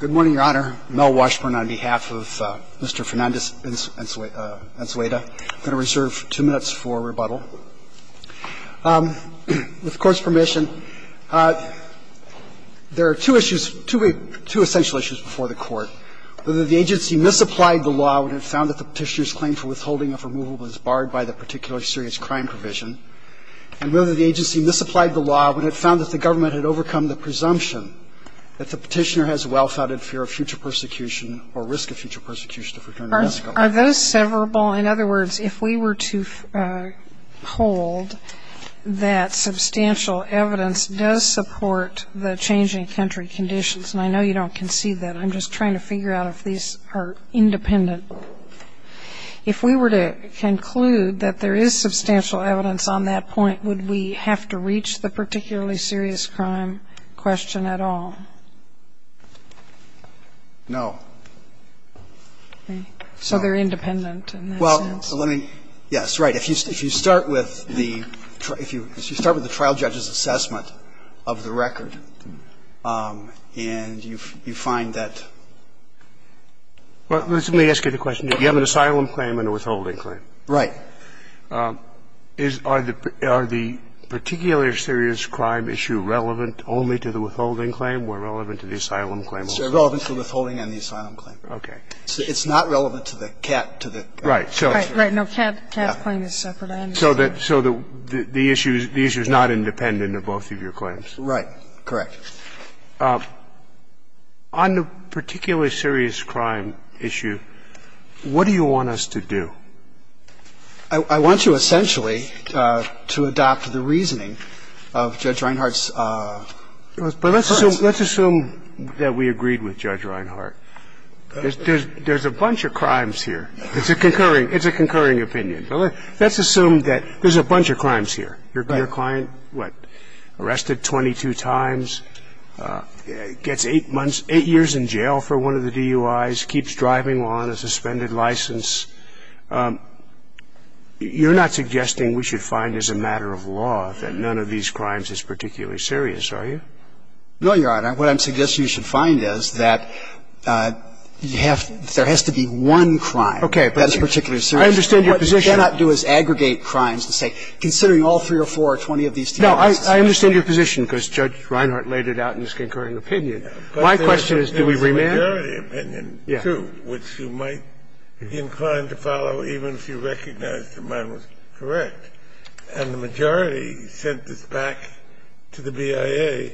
Good morning, Your Honor. Mel Washburn on behalf of Mr. Fernandez Unzueta. I'm going to reserve two minutes for rebuttal. With the Court's permission, there are two issues, two essential issues before the Court. Whether the agency misapplied the law when it found that the petitioner's claim for withholding of removal was barred by the particularly serious crime provision, and whether the agency misapplied the law when it found that the government had overcome the presumption that the petitioner has well-founded fear of future persecution or risk of future persecution if returned to Mexico. Are those severable? In other words, if we were to hold that substantial evidence does support the changing country conditions, and I know you don't concede that. I'm just trying to figure out if these are independent. If we were to conclude that there is substantial evidence on that point, would we have to reach the particularly serious crime question at all? No. Okay. So they're independent in that sense. Well, let me – yes, right. If you start with the trial judge's assessment of the record and you find that – Well, let me ask you the question. You have an asylum claim and a withholding claim. Right. Is – are the particular serious crime issue relevant only to the withholding claim or relevant to the asylum claim only? It's relevant to the withholding and the asylum claim. Okay. It's not relevant to the cat – to the – Right. Right. No, cat's claim is separate, I understand. So the issue is not independent of both of your claims. Right. Correct. On the particularly serious crime issue, what do you want us to do? I want you essentially to adopt the reasoning of Judge Reinhart's – But let's assume that we agreed with Judge Reinhart. There's a bunch of crimes here. It's a concurring – it's a concurring opinion. But let's assume that there's a bunch of crimes here. Your client, what, arrested 22 times, gets eight months – eight years in jail for one of the DUIs, keeps driving while on a suspended license. You're not suggesting we should find as a matter of law that none of these crimes is particularly serious, are you? No, Your Honor. What I'm suggesting you should find is that you have – there has to be one crime that's particularly serious. Okay. I understand your position. What you cannot do is aggregate crimes and say, considering all three or four or 20 of these DUIs. No, I understand your position because Judge Reinhart laid it out in his concurring opinion. My question is, do we remand? The majority opinion, too, which you might be inclined to follow even if you recognize that mine was correct, and the majority sent this back to the BIA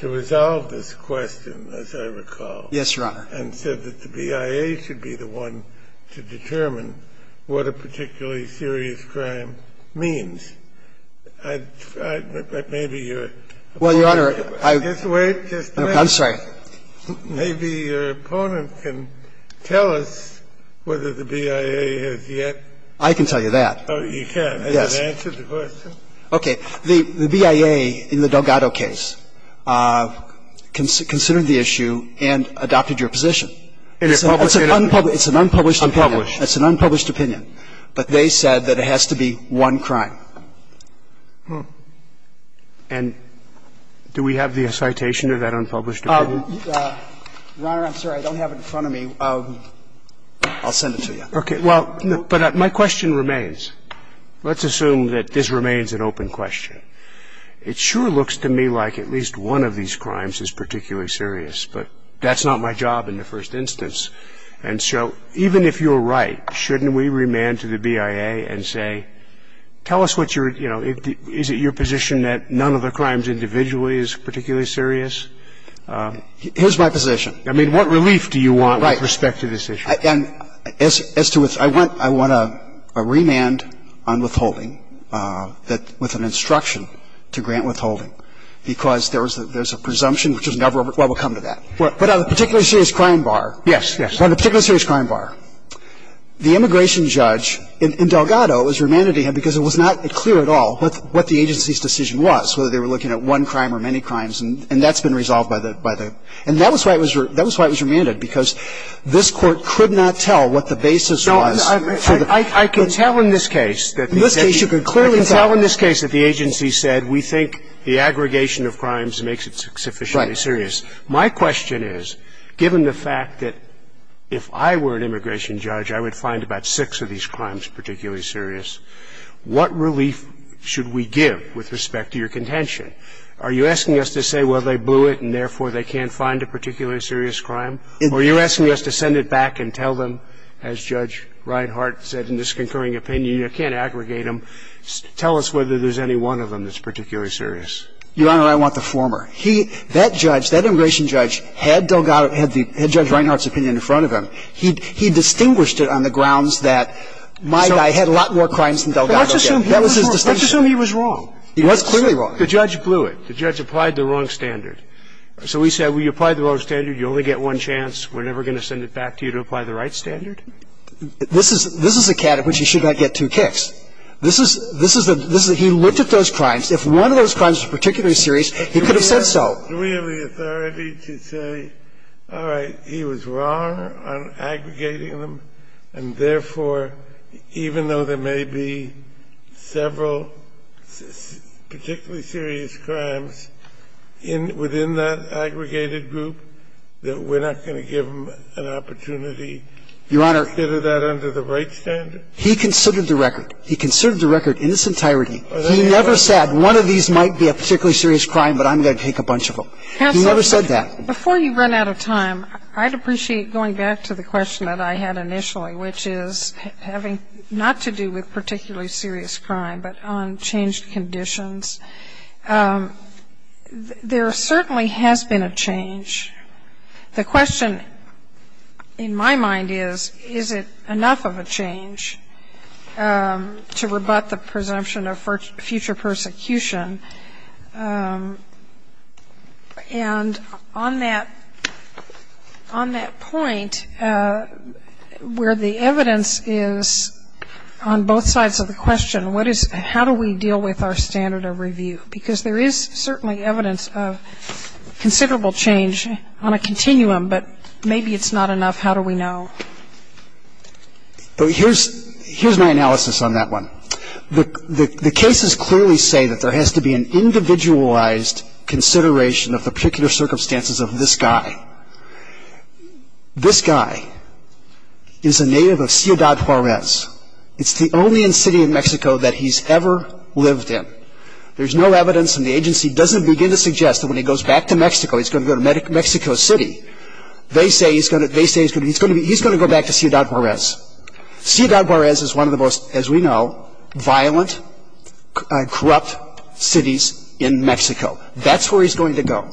to resolve this question, as I recall. Yes, Your Honor. And said that the BIA should be the one to determine what a particularly serious crime means. I – maybe you're – Well, Your Honor, I – Just wait. Just wait. I'm sorry. Maybe your opponent can tell us whether the BIA has yet. I can tell you that. Oh, you can. Yes. Has it answered the question? Okay. The BIA in the Delgado case considered the issue and adopted your position. It's an unpublished opinion. Unpublished. It's an unpublished opinion. But they said that it has to be one crime. And do we have the citation of that unpublished opinion? Your Honor, I'm sorry. I don't have it in front of me. I'll send it to you. Okay. Well, but my question remains. Let's assume that this remains an open question. It sure looks to me like at least one of these crimes is particularly serious, but that's not my job in the first instance. And so even if you're right, shouldn't we remand to the BIA and say, tell us what your – you know, is it your position that none of the crimes individually is particularly serious? Here's my position. I mean, what relief do you want with respect to this issue? Right. And as to – I want a remand on withholding that – with an instruction to grant withholding, because there's a presumption which is never – well, we'll come to that. But on the particularly serious crime bar. Yes, yes. On the particularly serious crime bar, the immigration judge in Delgado has remanded to him because it was not clear at all what the agency's decision was, whether they were looking at one crime or many crimes. And that's been resolved by the – and that was why it was remanded, because this Court could not tell what the basis was. I can tell in this case that the agency said we think the aggregation of crimes makes it sufficiently serious. My question is, given the fact that if I were an immigration judge, I would find about six of these crimes particularly serious, what relief should we give with respect to your contention? Are you asking us to say, well, they blew it and, therefore, they can't find a particularly serious crime? Or are you asking us to send it back and tell them, as Judge Reinhart said in this concurring opinion, you can't aggregate them, tell us whether there's any one of them that's particularly serious? Your Honor, I want the former. He – that judge, that immigration judge had Delgado – had Judge Reinhart's opinion in front of him. He distinguished it on the grounds that my guy had a lot more crimes than Delgado Well, let's assume he was wrong. That was his distinction. Well, that's clearly wrong. The judge blew it. The judge applied the wrong standard. So we say, well, you applied the wrong standard, you only get one chance, we're never going to send it back to you to apply the right standard? This is – this is a category in which you should not get two kicks. This is – this is a – he looked at those crimes. If one of those crimes was particularly serious, he could have said so. Do we have the authority to say, all right, he was wrong on aggregating them, and, therefore, even though there may be several particularly serious crimes in – within that aggregated group, that we're not going to give him an opportunity to consider that under the right standard? He considered the record. He considered the record in its entirety. He never said, one of these might be a particularly serious crime, but I'm going to take a bunch of them. He never said that. Counsel, before you run out of time, I'd appreciate going back to the question that I had initially, which is having – not to do with particularly serious crime, but on changed conditions. There certainly has been a change. The question in my mind is, is it enough of a change to rebut the presumption of future persecution? And on that – on that point, where the evidence is on both sides of the question, what is – how do we deal with our standard of review? Because there is certainly evidence of considerable change on a continuum, but maybe it's not enough. How do we know? Here's my analysis on that one. The cases clearly say that there has to be an individualized consideration of the particular circumstances of this guy. This guy is a native of Ciudad Juarez. It's the only city in Mexico that he's ever lived in. There's no evidence, and the agency doesn't begin to suggest that when he goes back to Mexico, he's going to go to Mexico City. They say he's going to go back to Ciudad Juarez. Ciudad Juarez is one of the most, as we know, violent, corrupt cities in Mexico. That's where he's going to go.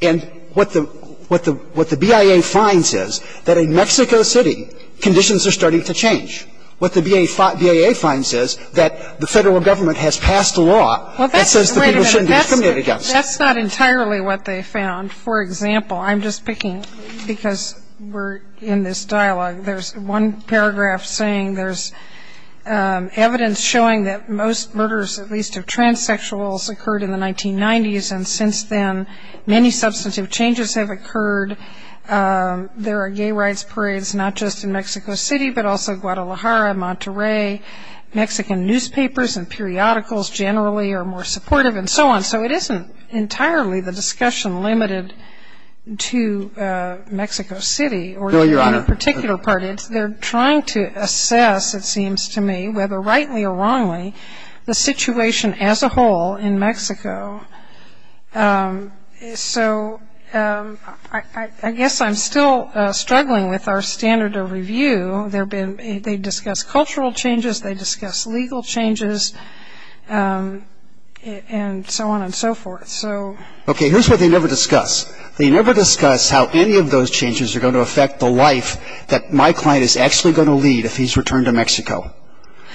And what the – what the BIA finds is that in Mexico City, conditions are starting to change. What the BIA finds is that the Federal Government has passed a law that says the people shouldn't be discriminated against. Wait a minute. That's not entirely what they found. For example, I'm just picking – because we're in this dialogue. There's one paragraph saying there's evidence showing that most murders, at least of transsexuals, occurred in the 1990s, and since then many substantive changes have occurred. There are gay rights parades not just in Mexico City, but also Guadalajara, Monterrey. Mexican newspapers and periodicals generally are more supportive, and so on. So it isn't entirely the discussion limited to Mexico City or any particular part. They're trying to assess, it seems to me, whether rightly or wrongly, the situation as a whole in Mexico. So I guess I'm still struggling with our standard of review. They discuss cultural changes, they discuss legal changes, and so on and so forth. Okay, here's what they never discuss. They never discuss how any of those changes are going to affect the life that my client is actually going to lead if he's returned to Mexico.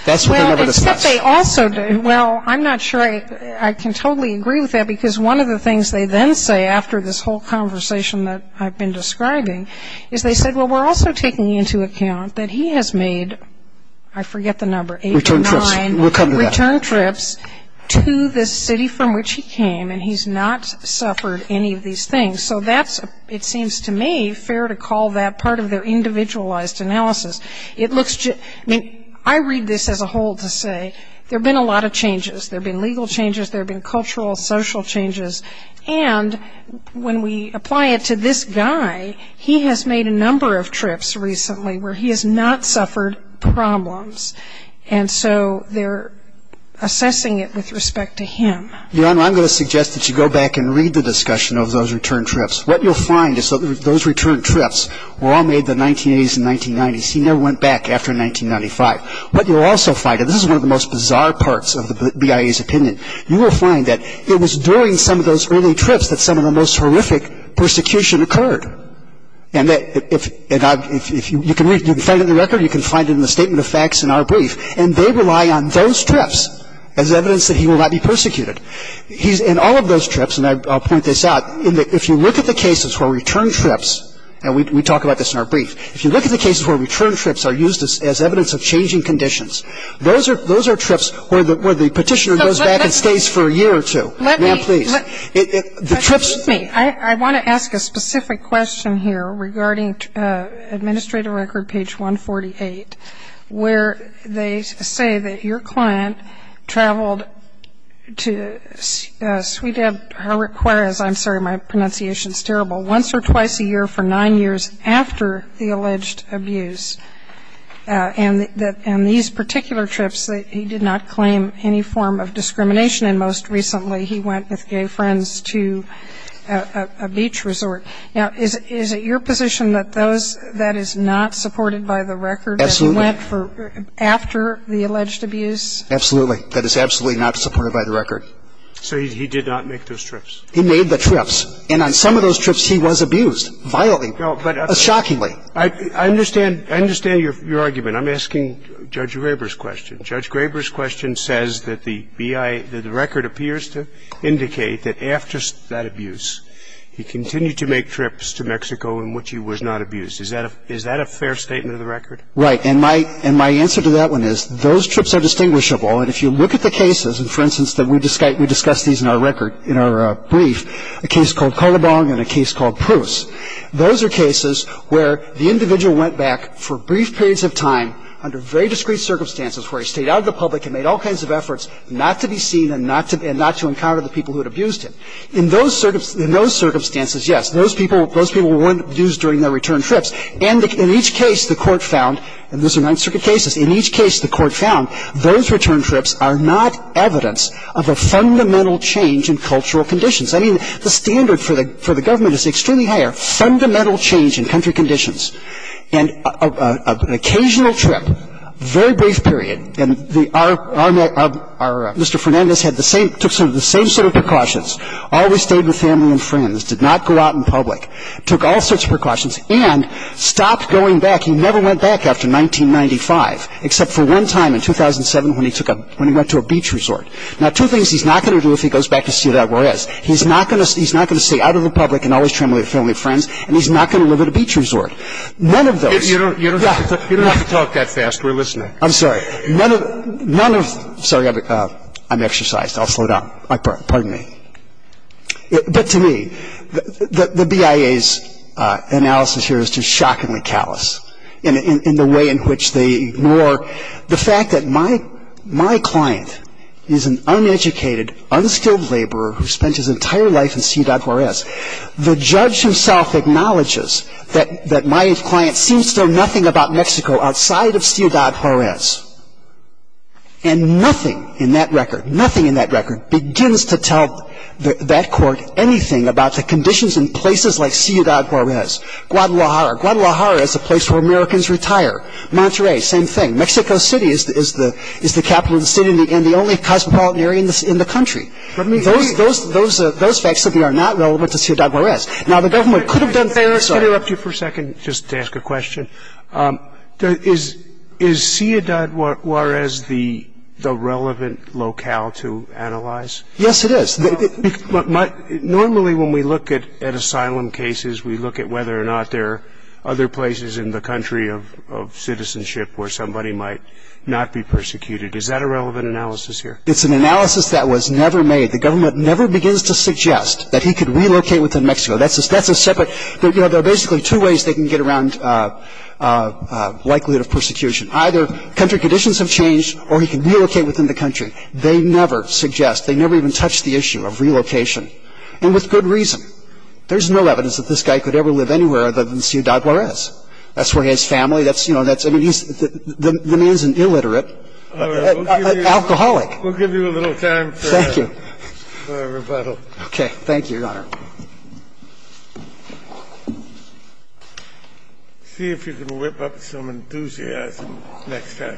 That's what they never discuss. Well, I'm not sure I can totally agree with that, because one of the things they then say after this whole conversation that I've been describing is they said, well, we're also taking into account that he has made, I forget the number, eight or nine return trips to the city from which he came, and he's not suffered any of these things. So that's, it seems to me, fair to call that part of their individualized analysis. I mean, I read this as a whole to say there have been a lot of changes. There have been legal changes, there have been cultural, social changes. And when we apply it to this guy, he has made a number of trips recently where he has not suffered problems. And so they're assessing it with respect to him. Your Honor, I'm going to suggest that you go back and read the discussion of those return trips. What you'll find is that those return trips were all made in the 1980s and 1990s. He never went back after 1995. What you'll also find, and this is one of the most bizarre parts of the BIA's opinion, you will find that it was during some of those early trips that some of the most horrific persecution occurred. And you can find it in the record, you can find it in the statement of facts in our brief. And they rely on those trips as evidence that he will not be persecuted. In all of those trips, and I'll point this out, if you look at the cases where return trips, and we talk about this in our brief, if you look at the cases where return trips are used as evidence of changing conditions, those are trips where the petitioner goes back and stays for a year or two. Now, please. The trips. Let me. I want to ask a specific question here regarding Administrative Record, page 148, where they say that your client traveled to Ciudad, I'm sorry, my pronunciation is terrible, once or twice a year for nine years after the alleged abuse. And these particular trips, he did not claim any form of discrimination, and most recently he went with gay friends to a beach resort. Now, is it your position that those, that is not supported by the record? Absolutely. That he went for, after the alleged abuse? Absolutely. That is absolutely not supported by the record. So he did not make those trips? He made the trips. And on some of those trips he was abused, violently. No, but. Shockingly. I understand, I understand your argument. I'm asking Judge Graber's question. Judge Graber's question says that the BIA, that the record appears to indicate that after that abuse, he continued to make trips to Mexico in which he was not abused. Is that a fair statement of the record? Right. And my answer to that one is, those trips are distinguishable. And if you look at the cases, and for instance, we discussed these in our record, in our brief, a case called Calabong and a case called Pruce. Those are cases where the individual went back for brief periods of time under very discreet circumstances where he stayed out of the public and made all kinds of efforts not to be seen and not to encounter the people who had abused him. In those circumstances, yes, those people were abused during their return trips. And in each case the Court found, and those are Ninth Circuit cases, in each case the Court found those return trips are not evidence of a fundamental change in cultural conditions. I mean, the standard for the government is extremely higher, fundamental change in country conditions. And an occasional trip, very brief period, and our Mr. Fernandez had the same, took sort of the same set of precautions, always stayed with family and friends, did not go out in public, took all sorts of precautions, and stopped going back. He never went back after 1995, except for one time in 2007 when he took a, when he went to a beach resort. Now, two things he's not going to do if he goes back to see that Juarez. He's not going to stay out of the public and always travel with family and friends, and he's not going to live at a beach resort. None of those. You don't have to talk that fast. We're listening. I'm sorry. None of, none of, sorry, I'm exercised. I'll slow down. Pardon me. But to me, the BIA's analysis here is just shockingly callous in the way in which they an uneducated, unskilled laborer who spent his entire life in Ciudad Juarez. The judge himself acknowledges that my client seems to know nothing about Mexico outside of Ciudad Juarez. And nothing in that record, nothing in that record begins to tell that court anything about the conditions in places like Ciudad Juarez. Guadalajara. Guadalajara is a place where Americans retire. Monterrey, same thing. Mexico City is the capital of the city and the only cosmopolitan area in the country. What do you mean? Those facts simply are not relevant to Ciudad Juarez. Now, the government could have done better. May I interrupt you for a second just to ask a question? Is Ciudad Juarez the relevant locale to analyze? Yes, it is. Normally, when we look at asylum cases, we look at whether or not there are other places in the country of citizenship where somebody might not be persecuted. Is that a relevant analysis here? It's an analysis that was never made. The government never begins to suggest that he could relocate within Mexico. That's a separate. There are basically two ways they can get around likelihood of persecution. Either country conditions have changed or he can relocate within the country. They never suggest. They never even touch the issue of relocation and with good reason. There's no evidence that this guy could ever live anywhere other than Ciudad Juarez. That's where he has family. That's, you know, that's, I mean, he's, the man's an illiterate alcoholic. We'll give you a little time for a rebuttal. Okay. Thank you, Your Honor. See if you can whip up some enthusiasm next time.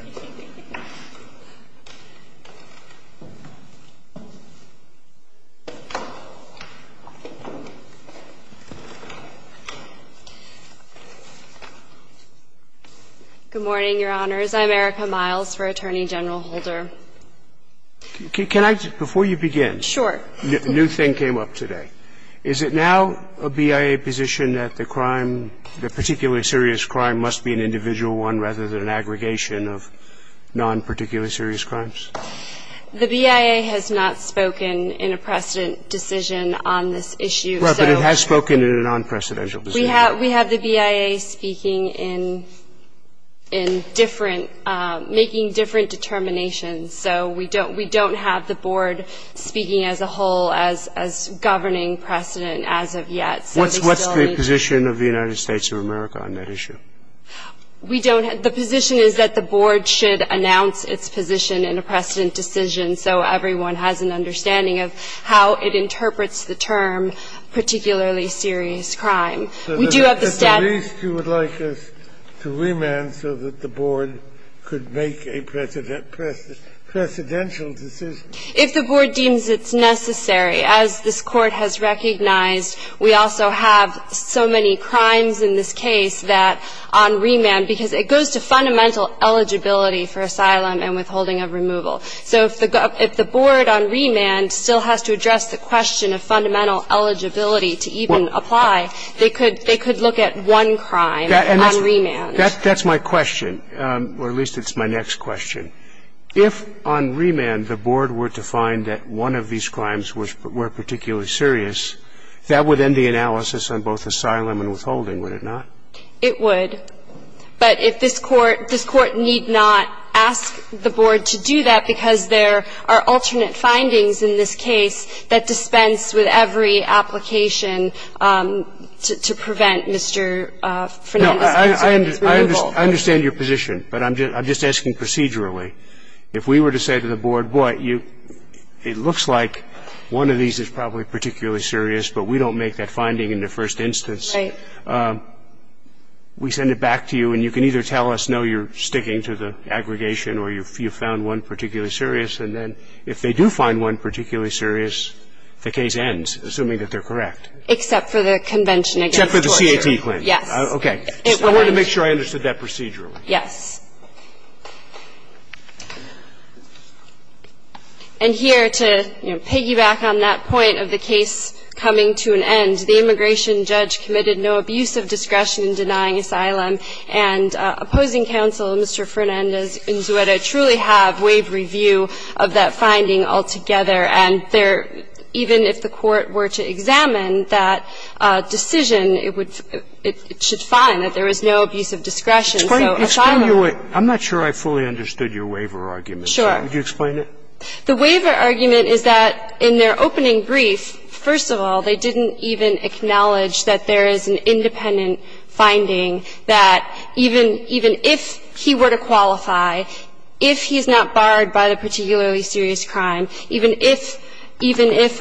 Good morning, Your Honors. I'm Erica Miles for Attorney General Holder. Can I, before you begin. Sure. A new thing came up today. Is it now a BIA position that the crime, the particularly serious crime, must be an individual one rather than an aggregation of non-particularly serious crimes? The BIA has not spoken in a precedent decision on this issue. Right, but it has spoken in a non-precedential decision. We have the BIA speaking in different, making different determinations. So we don't have the board speaking as a whole as governing precedent as of yet. What's the position of the United States of America on that issue? We don't. The position is that the board should announce its position in a precedent decision so everyone has an understanding of how it interprets the term particularly serious crime. We do have the statute. At the least, you would like us to remand so that the board could make a precedent decision. If the board deems it's necessary. As this Court has recognized, we also have so many crimes in this case that on remand, because it goes to fundamental eligibility for asylum and withholding of removal. So if the board on remand still has to address the question of fundamental eligibility to even apply, they could look at one crime on remand. That's my question, or at least it's my next question. If on remand the board were to find that one of these crimes were particularly serious, that would end the analysis on both asylum and withholding, would it not? It would. But if this Court need not ask the board to do that because there are alternate findings in this case that dispense with every application to prevent Mr. Fernandez's concern with removal. No, I understand your position, but I'm just asking procedurally. If we were to say to the board, boy, it looks like one of these is probably particularly serious, but we don't make that finding in the first instance. Right. We send it back to you, and you can either tell us, no, you're sticking to the aggregation or you found one particularly serious. And then if they do find one particularly serious, the case ends, assuming that they're correct. Except for the convention against torture. Except for the CAT claim. Yes. Okay. I wanted to make sure I understood that procedurally. Yes. And here, to, you know, piggyback on that point of the case coming to an end, the immigration judge committed no abuse of discretion in denying asylum, and opposing counsel, Mr. Fernandez and Zueta, truly have waived review of that finding altogether. And they're, even if the court were to examine that decision, it would, it should find that there was no abuse of discretion, so asylum. I'm not sure I fully understood your waiver argument. Sure. Would you explain it? The waiver argument is that in their opening brief, first of all, they didn't even acknowledge that there is an independent finding that even if he were to qualify, if he's not barred by the particularly serious crime, even if, even if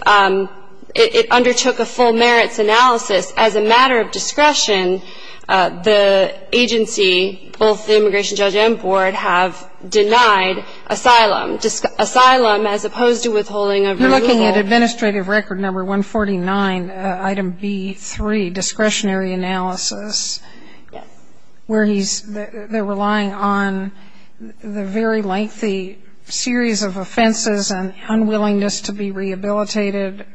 it undertook a full merits analysis as a matter of discretion, the agency, both the immigration judge and board, have denied asylum. Asylum, as opposed to withholding a review. You're looking at administrative record number 149, item B-3, discretionary analysis. Yes. Where he's, they're relying on the very lengthy series of offenses and unwillingness to be rehabilitated,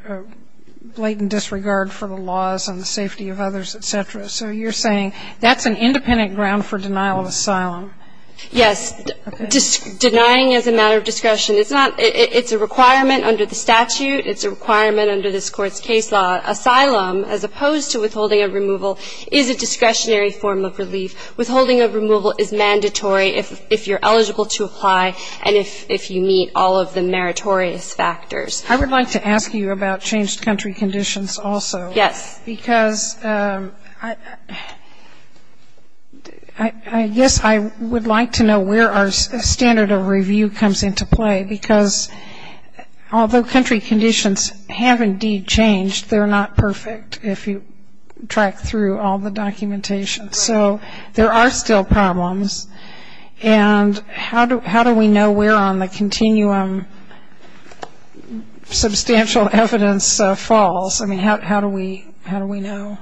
blatant disregard for the laws and the safety of others, et cetera. So you're saying that's an independent ground for denial of asylum. Yes. Okay. Denying as a matter of discretion. It's not, it's a requirement under the statute. It's a requirement under this Court's case law. Denying asylum, as opposed to withholding a removal, is a discretionary form of relief. Withholding a removal is mandatory if you're eligible to apply and if you meet all of the meritorious factors. I would like to ask you about changed country conditions also. Yes. Because I guess I would like to know where our standard of review comes into play, because although country conditions have indeed changed, they're not perfect if you track through all the documentation. So there are still problems. And how do we know where on the continuum substantial evidence falls? I mean, how do we know?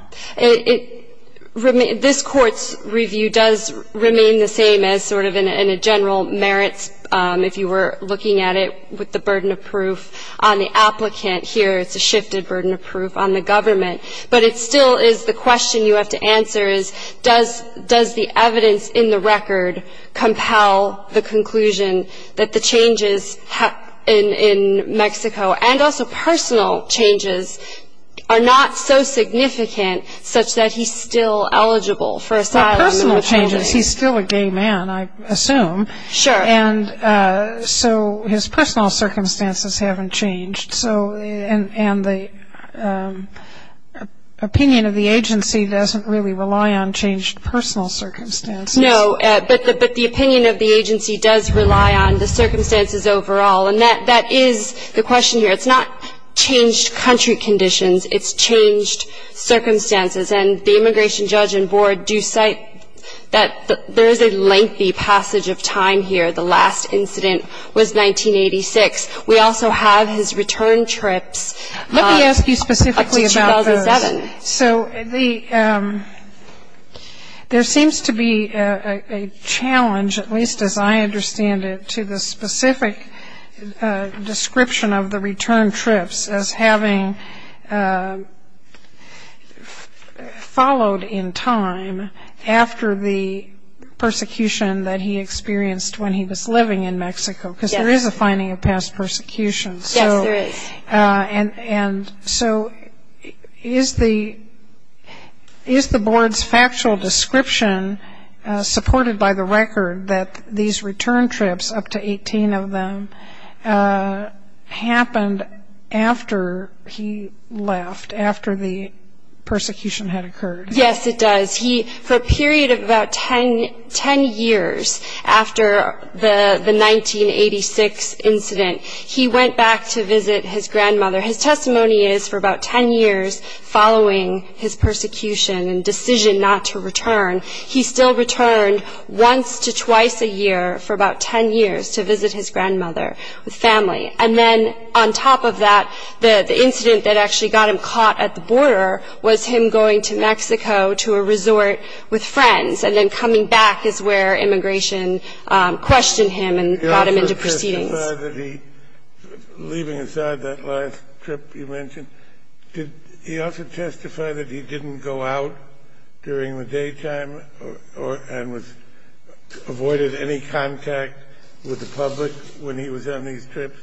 This Court's review does remain the same as sort of in a general merits, if you were looking at it with the burden of proof on the applicant. Here it's a shifted burden of proof on the government. But it still is the question you have to answer is, does the evidence in the record compel the conclusion that the changes in Mexico, and also personal changes, are not so significant such that he's still eligible for asylum? Well, personal changes. He's still a gay man, I assume. Sure. And so his personal circumstances haven't changed. And the opinion of the agency doesn't really rely on changed personal circumstances. No. But the opinion of the agency does rely on the circumstances overall. And that is the question here. It's not changed country conditions. It's changed circumstances. And the immigration judge and board do cite that there is a lengthy passage of time here, the last incident was 1986. We also have his return trips up to 2007. Let me ask you specifically about those. So there seems to be a challenge, at least as I understand it, to the specific description of the return trips as having followed in time after the persecution that he experienced when he was living in Mexico, because there is a finding of past persecution. Yes, there is. And so is the board's factual description supported by the record that these return trips, up to 18 of them, happened after he left, after the persecution had occurred? Yes, it does. He, for a period of about 10 years after the 1986 incident, he went back to visit his grandmother. His testimony is for about 10 years following his persecution and decision not to return, he still returned once to twice a year for about 10 years to visit his grandmother with family. And then on top of that, the incident that actually got him caught at the border was him going to Mexico to a resort with friends, and then coming back is where immigration questioned him and brought him into proceedings. Did he also testify that he, leaving aside that last trip you mentioned, did he also testify that he didn't go out during the daytime and avoided any contact with the public when he was on these trips?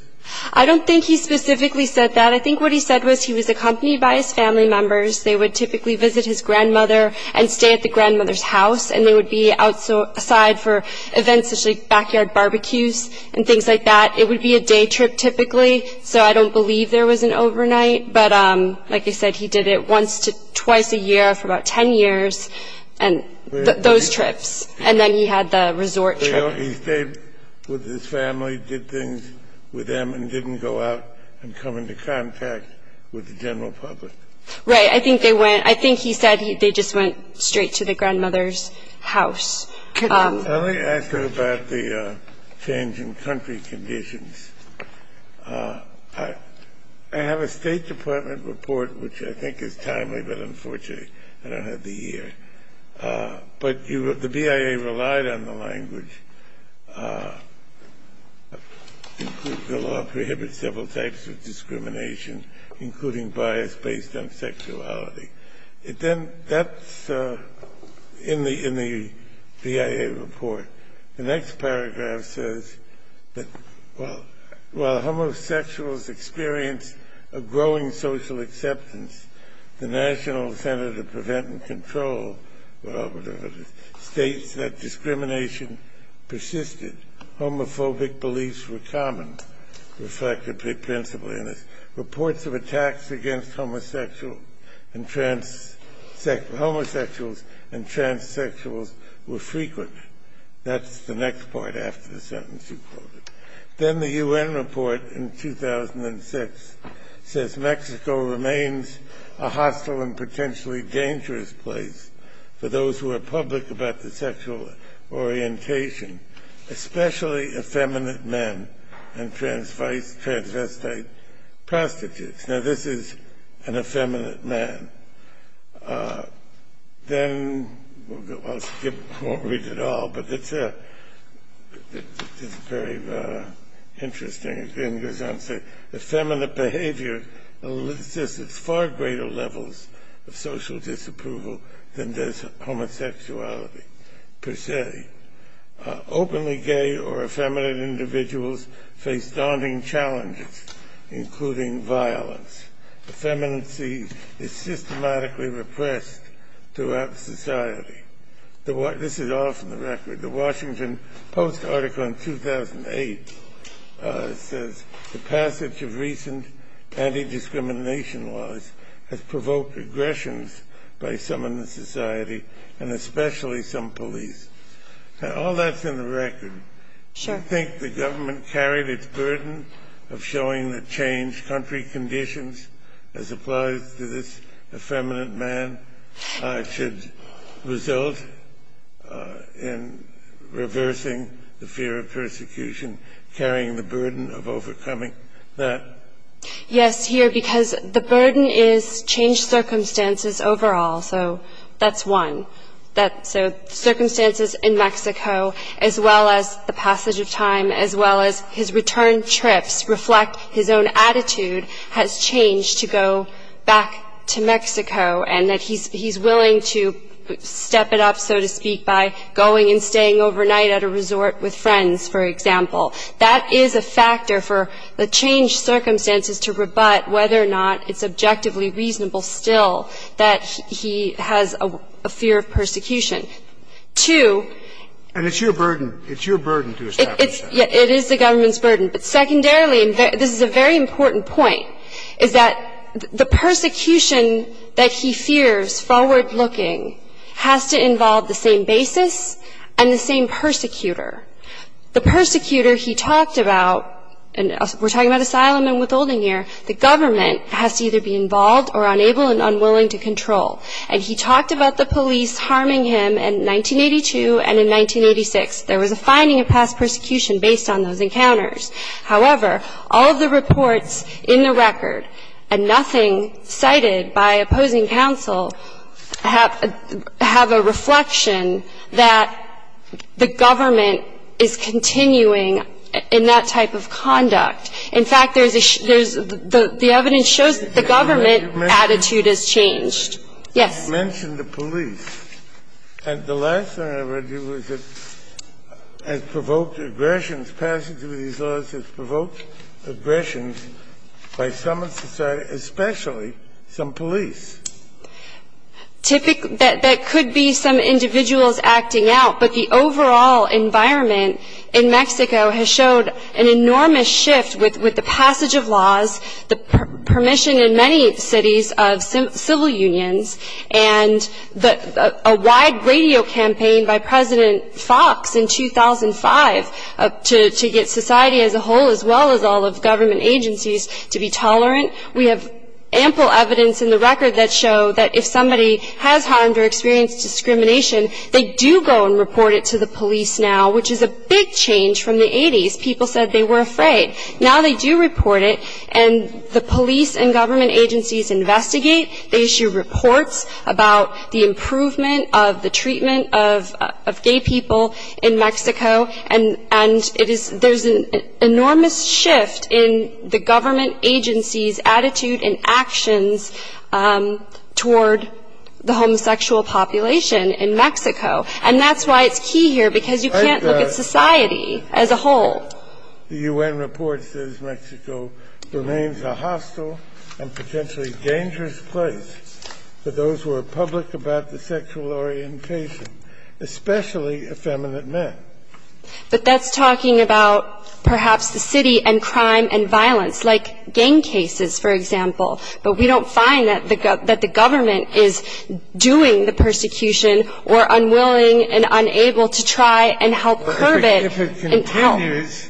I don't think he specifically said that. I think what he said was he was accompanied by his family members. They would typically visit his grandmother and stay at the grandmother's house, and they would be outside for events such as backyard barbecues and things like that. It would be a day trip typically, so I don't believe there was an overnight. But like I said, he did it once to twice a year for about 10 years, those trips, and then he had the resort trip. So he stayed with his family, did things with them, and didn't go out and come into contact with the general public? Right. I think they went – I think he said they just went straight to the grandmother's house. Let me ask you about the changing country conditions. I have a State Department report, which I think is timely, but unfortunately I don't have the year. But the BIA relied on the language, the law prohibits several types of discrimination, including bias based on sexuality. That's in the BIA report. The next paragraph says that while homosexuals experienced a growing social acceptance, the National Center to Prevent and Control states that discrimination persisted. Homophobic beliefs were common, reflected principally in this. Reports of attacks against homosexuals and transsexuals were frequent. That's the next part after the sentence you quoted. Then the UN report in 2006 says Mexico remains a hostile and potentially dangerous place for those who are public about their sexual orientation, especially effeminate men and transvestite prostitutes. Now, this is an effeminate man. Then – I'll skip – I won't read it all, but it's a very interesting – it goes on to say effeminate behavior assists at far greater levels of social disapproval than does homosexuality per se. Openly gay or effeminate individuals face daunting challenges, including violence. Effeminacy is systematically repressed throughout society. This is all from the record. The Washington Post article in 2008 says the passage of recent anti-discrimination laws has provoked aggressions by some in the society, and especially some police. Now, all that's in the record. I think the government carried its burden of showing that changed country conditions, as applies to this effeminate man, should result in reversing the fear of persecution, carrying the burden of overcoming that. Yes, here, because the burden is changed circumstances overall. So that's one. So circumstances in Mexico, as well as the passage of time, as well as his return trips reflect his own attitude, has changed to go back to Mexico and that he's willing to step it up, so to speak, by going and staying overnight at a resort with friends, for example. That is a factor for the changed circumstances to rebut whether or not it's objectively reasonable still that he has a fear of persecution. Two – And it's your burden. It is the government's burden. But secondarily, and this is a very important point, is that the persecution that he fears, forward-looking, has to involve the same basis and the same persecutor. The persecutor he talked about – and we're talking about asylum and withholding here – the government has to either be involved or unable and unwilling to control. And he talked about the police harming him in 1982 and in 1986. There was a finding of past persecution based on those encounters. However, all of the reports in the record, and nothing cited by opposing counsel, have a reflection that the government is continuing in that type of conduct. In fact, there's a – the evidence shows that the government attitude has changed. Yes. You mentioned the police. And the last thing I want to do is it has provoked aggressions. Passage of these laws has provoked aggressions by some of society, especially some police. Typically – that could be some individuals acting out, but the overall environment in Mexico has showed an enormous shift with the passage of laws, the permission in many cities of civil unions and a wide radio campaign by President Fox in 2005 to get society as a whole, as well as all of government agencies, to be tolerant. We have ample evidence in the record that show that if somebody has harmed or experienced discrimination, they do go and report it to the police now, which is a big change from the 80s. People said they were afraid. Now they do report it, and the police and government agencies investigate. They issue reports about the improvement of the treatment of gay people in Mexico, and it is – there's an enormous shift in the government agency's attitude and actions toward the homosexual population in Mexico. And that's why it's key here, because you can't look at society as a whole. The U.N. report says Mexico remains a hostile and potentially dangerous place for those who are public about the sexual orientation, especially effeminate men. But that's talking about perhaps the city and crime and violence, like gang cases, for example. But we don't find that the government is doing the persecution or unwilling and unable to try and help curb it. If it continues,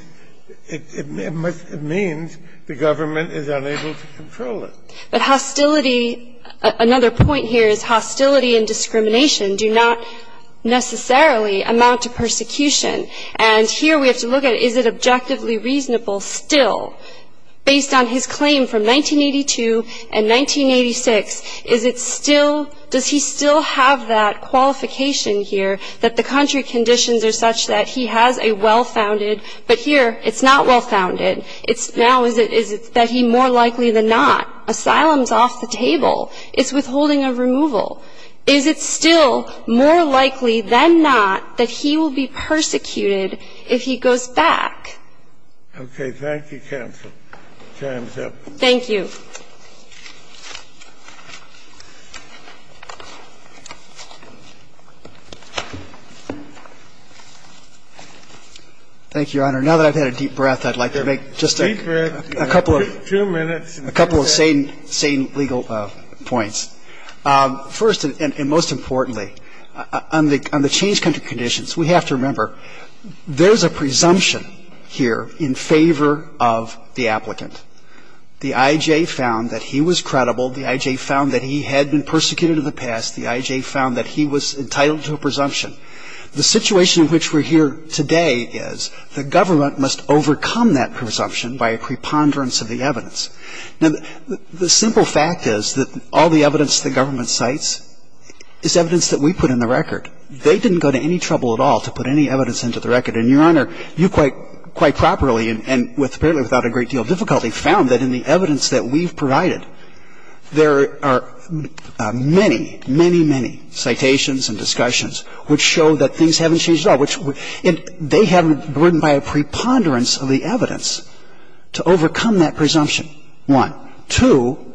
it means the government is unable to control it. But hostility – another point here is hostility and discrimination do not necessarily amount to persecution. And here we have to look at is it objectively reasonable still, based on his claim from 1982 and 1986, is it still – does he still have that qualification here that the country conditions are such that he has a well-founded – but here it's not well-founded. Now, is it that he more likely than not asylums off the table? It's withholding of removal. Is it still more likely than not that he will be persecuted if he goes back? Okay. Thank you, counsel. Time's up. Thank you. Thank you, Your Honor. Now that I've had a deep breath, I'd like to make just a couple of – Deep breath. Two minutes. A couple of sane legal points. First and most importantly, on the change country conditions, we have to remember there's a presumption here in favor of the applicant. The I.J. found that he was credible. The I.J. found that he had been persecuted in the past. The I.J. found that he was entitled to a presumption. The situation in which we're here today is the government must overcome that presumption by a preponderance of the evidence. Now, the simple fact is that all the evidence the government cites is evidence that we put in the record. They didn't go to any trouble at all to put any evidence into the record. And, Your Honor, you quite properly and apparently without a great deal of difficulty found that in the evidence that we've provided, there are many, many, many citations and discussions which show that things haven't changed at all. They haven't been burdened by a preponderance of the evidence to overcome that presumption, one. Two,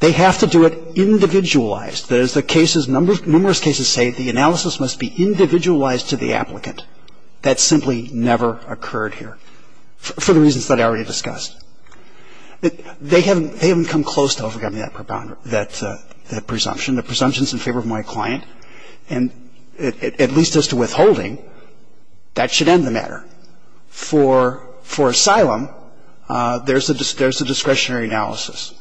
they have to do it individualized. There's the cases, numerous cases say the analysis must be individualized to the But that has absolutely never occurred here for the reasons that I already discussed. They haven't come close to overcoming that presumption. The presumption is in favor of my client. And at least as to withholding, that should end the matter. For asylum, there's a discretionary analysis.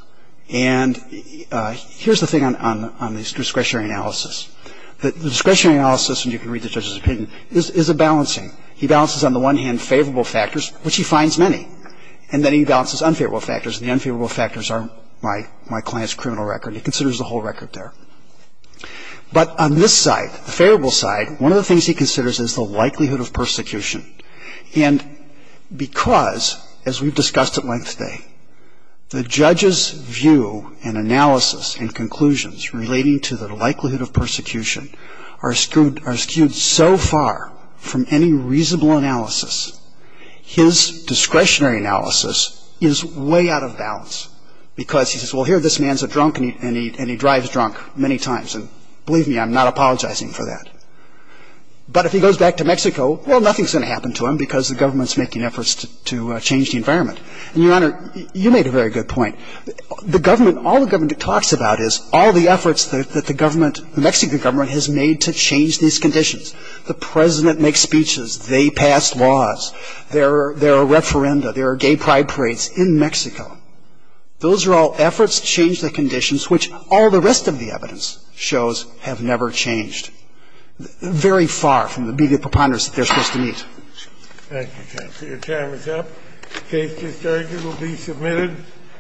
And here's the thing on this discretionary analysis. The discretionary analysis, and you can read the judge's opinion, is a balancing. He balances on the one hand favorable factors, which he finds many, and then he balances unfavorable factors, and the unfavorable factors are my client's criminal record. He considers the whole record there. But on this side, the favorable side, one of the things he considers is the likelihood of persecution. And because, as we've discussed at length today, the judge's view and analysis and conclusions relating to the likelihood of persecution are skewed so far from any reasonable analysis, his discretionary analysis is way out of balance. Because he says, well, here, this man's a drunk, and he drives drunk many times. And believe me, I'm not apologizing for that. But if he goes back to Mexico, well, nothing's going to happen to him because the government's making efforts to change the environment. And, Your Honor, you made a very good point. The government, all the government talks about is all the efforts that the government, the Mexican government, has made to change these conditions. The President makes speeches. They pass laws. There are referenda. There are gay pride parades in Mexico. Those are all efforts to change the conditions, which all the rest of the evidence shows have never changed. Very far from the immediate preponderance that they're supposed to meet. Thank you, counsel. Your time is up. The case is adjourned. It will be submitted.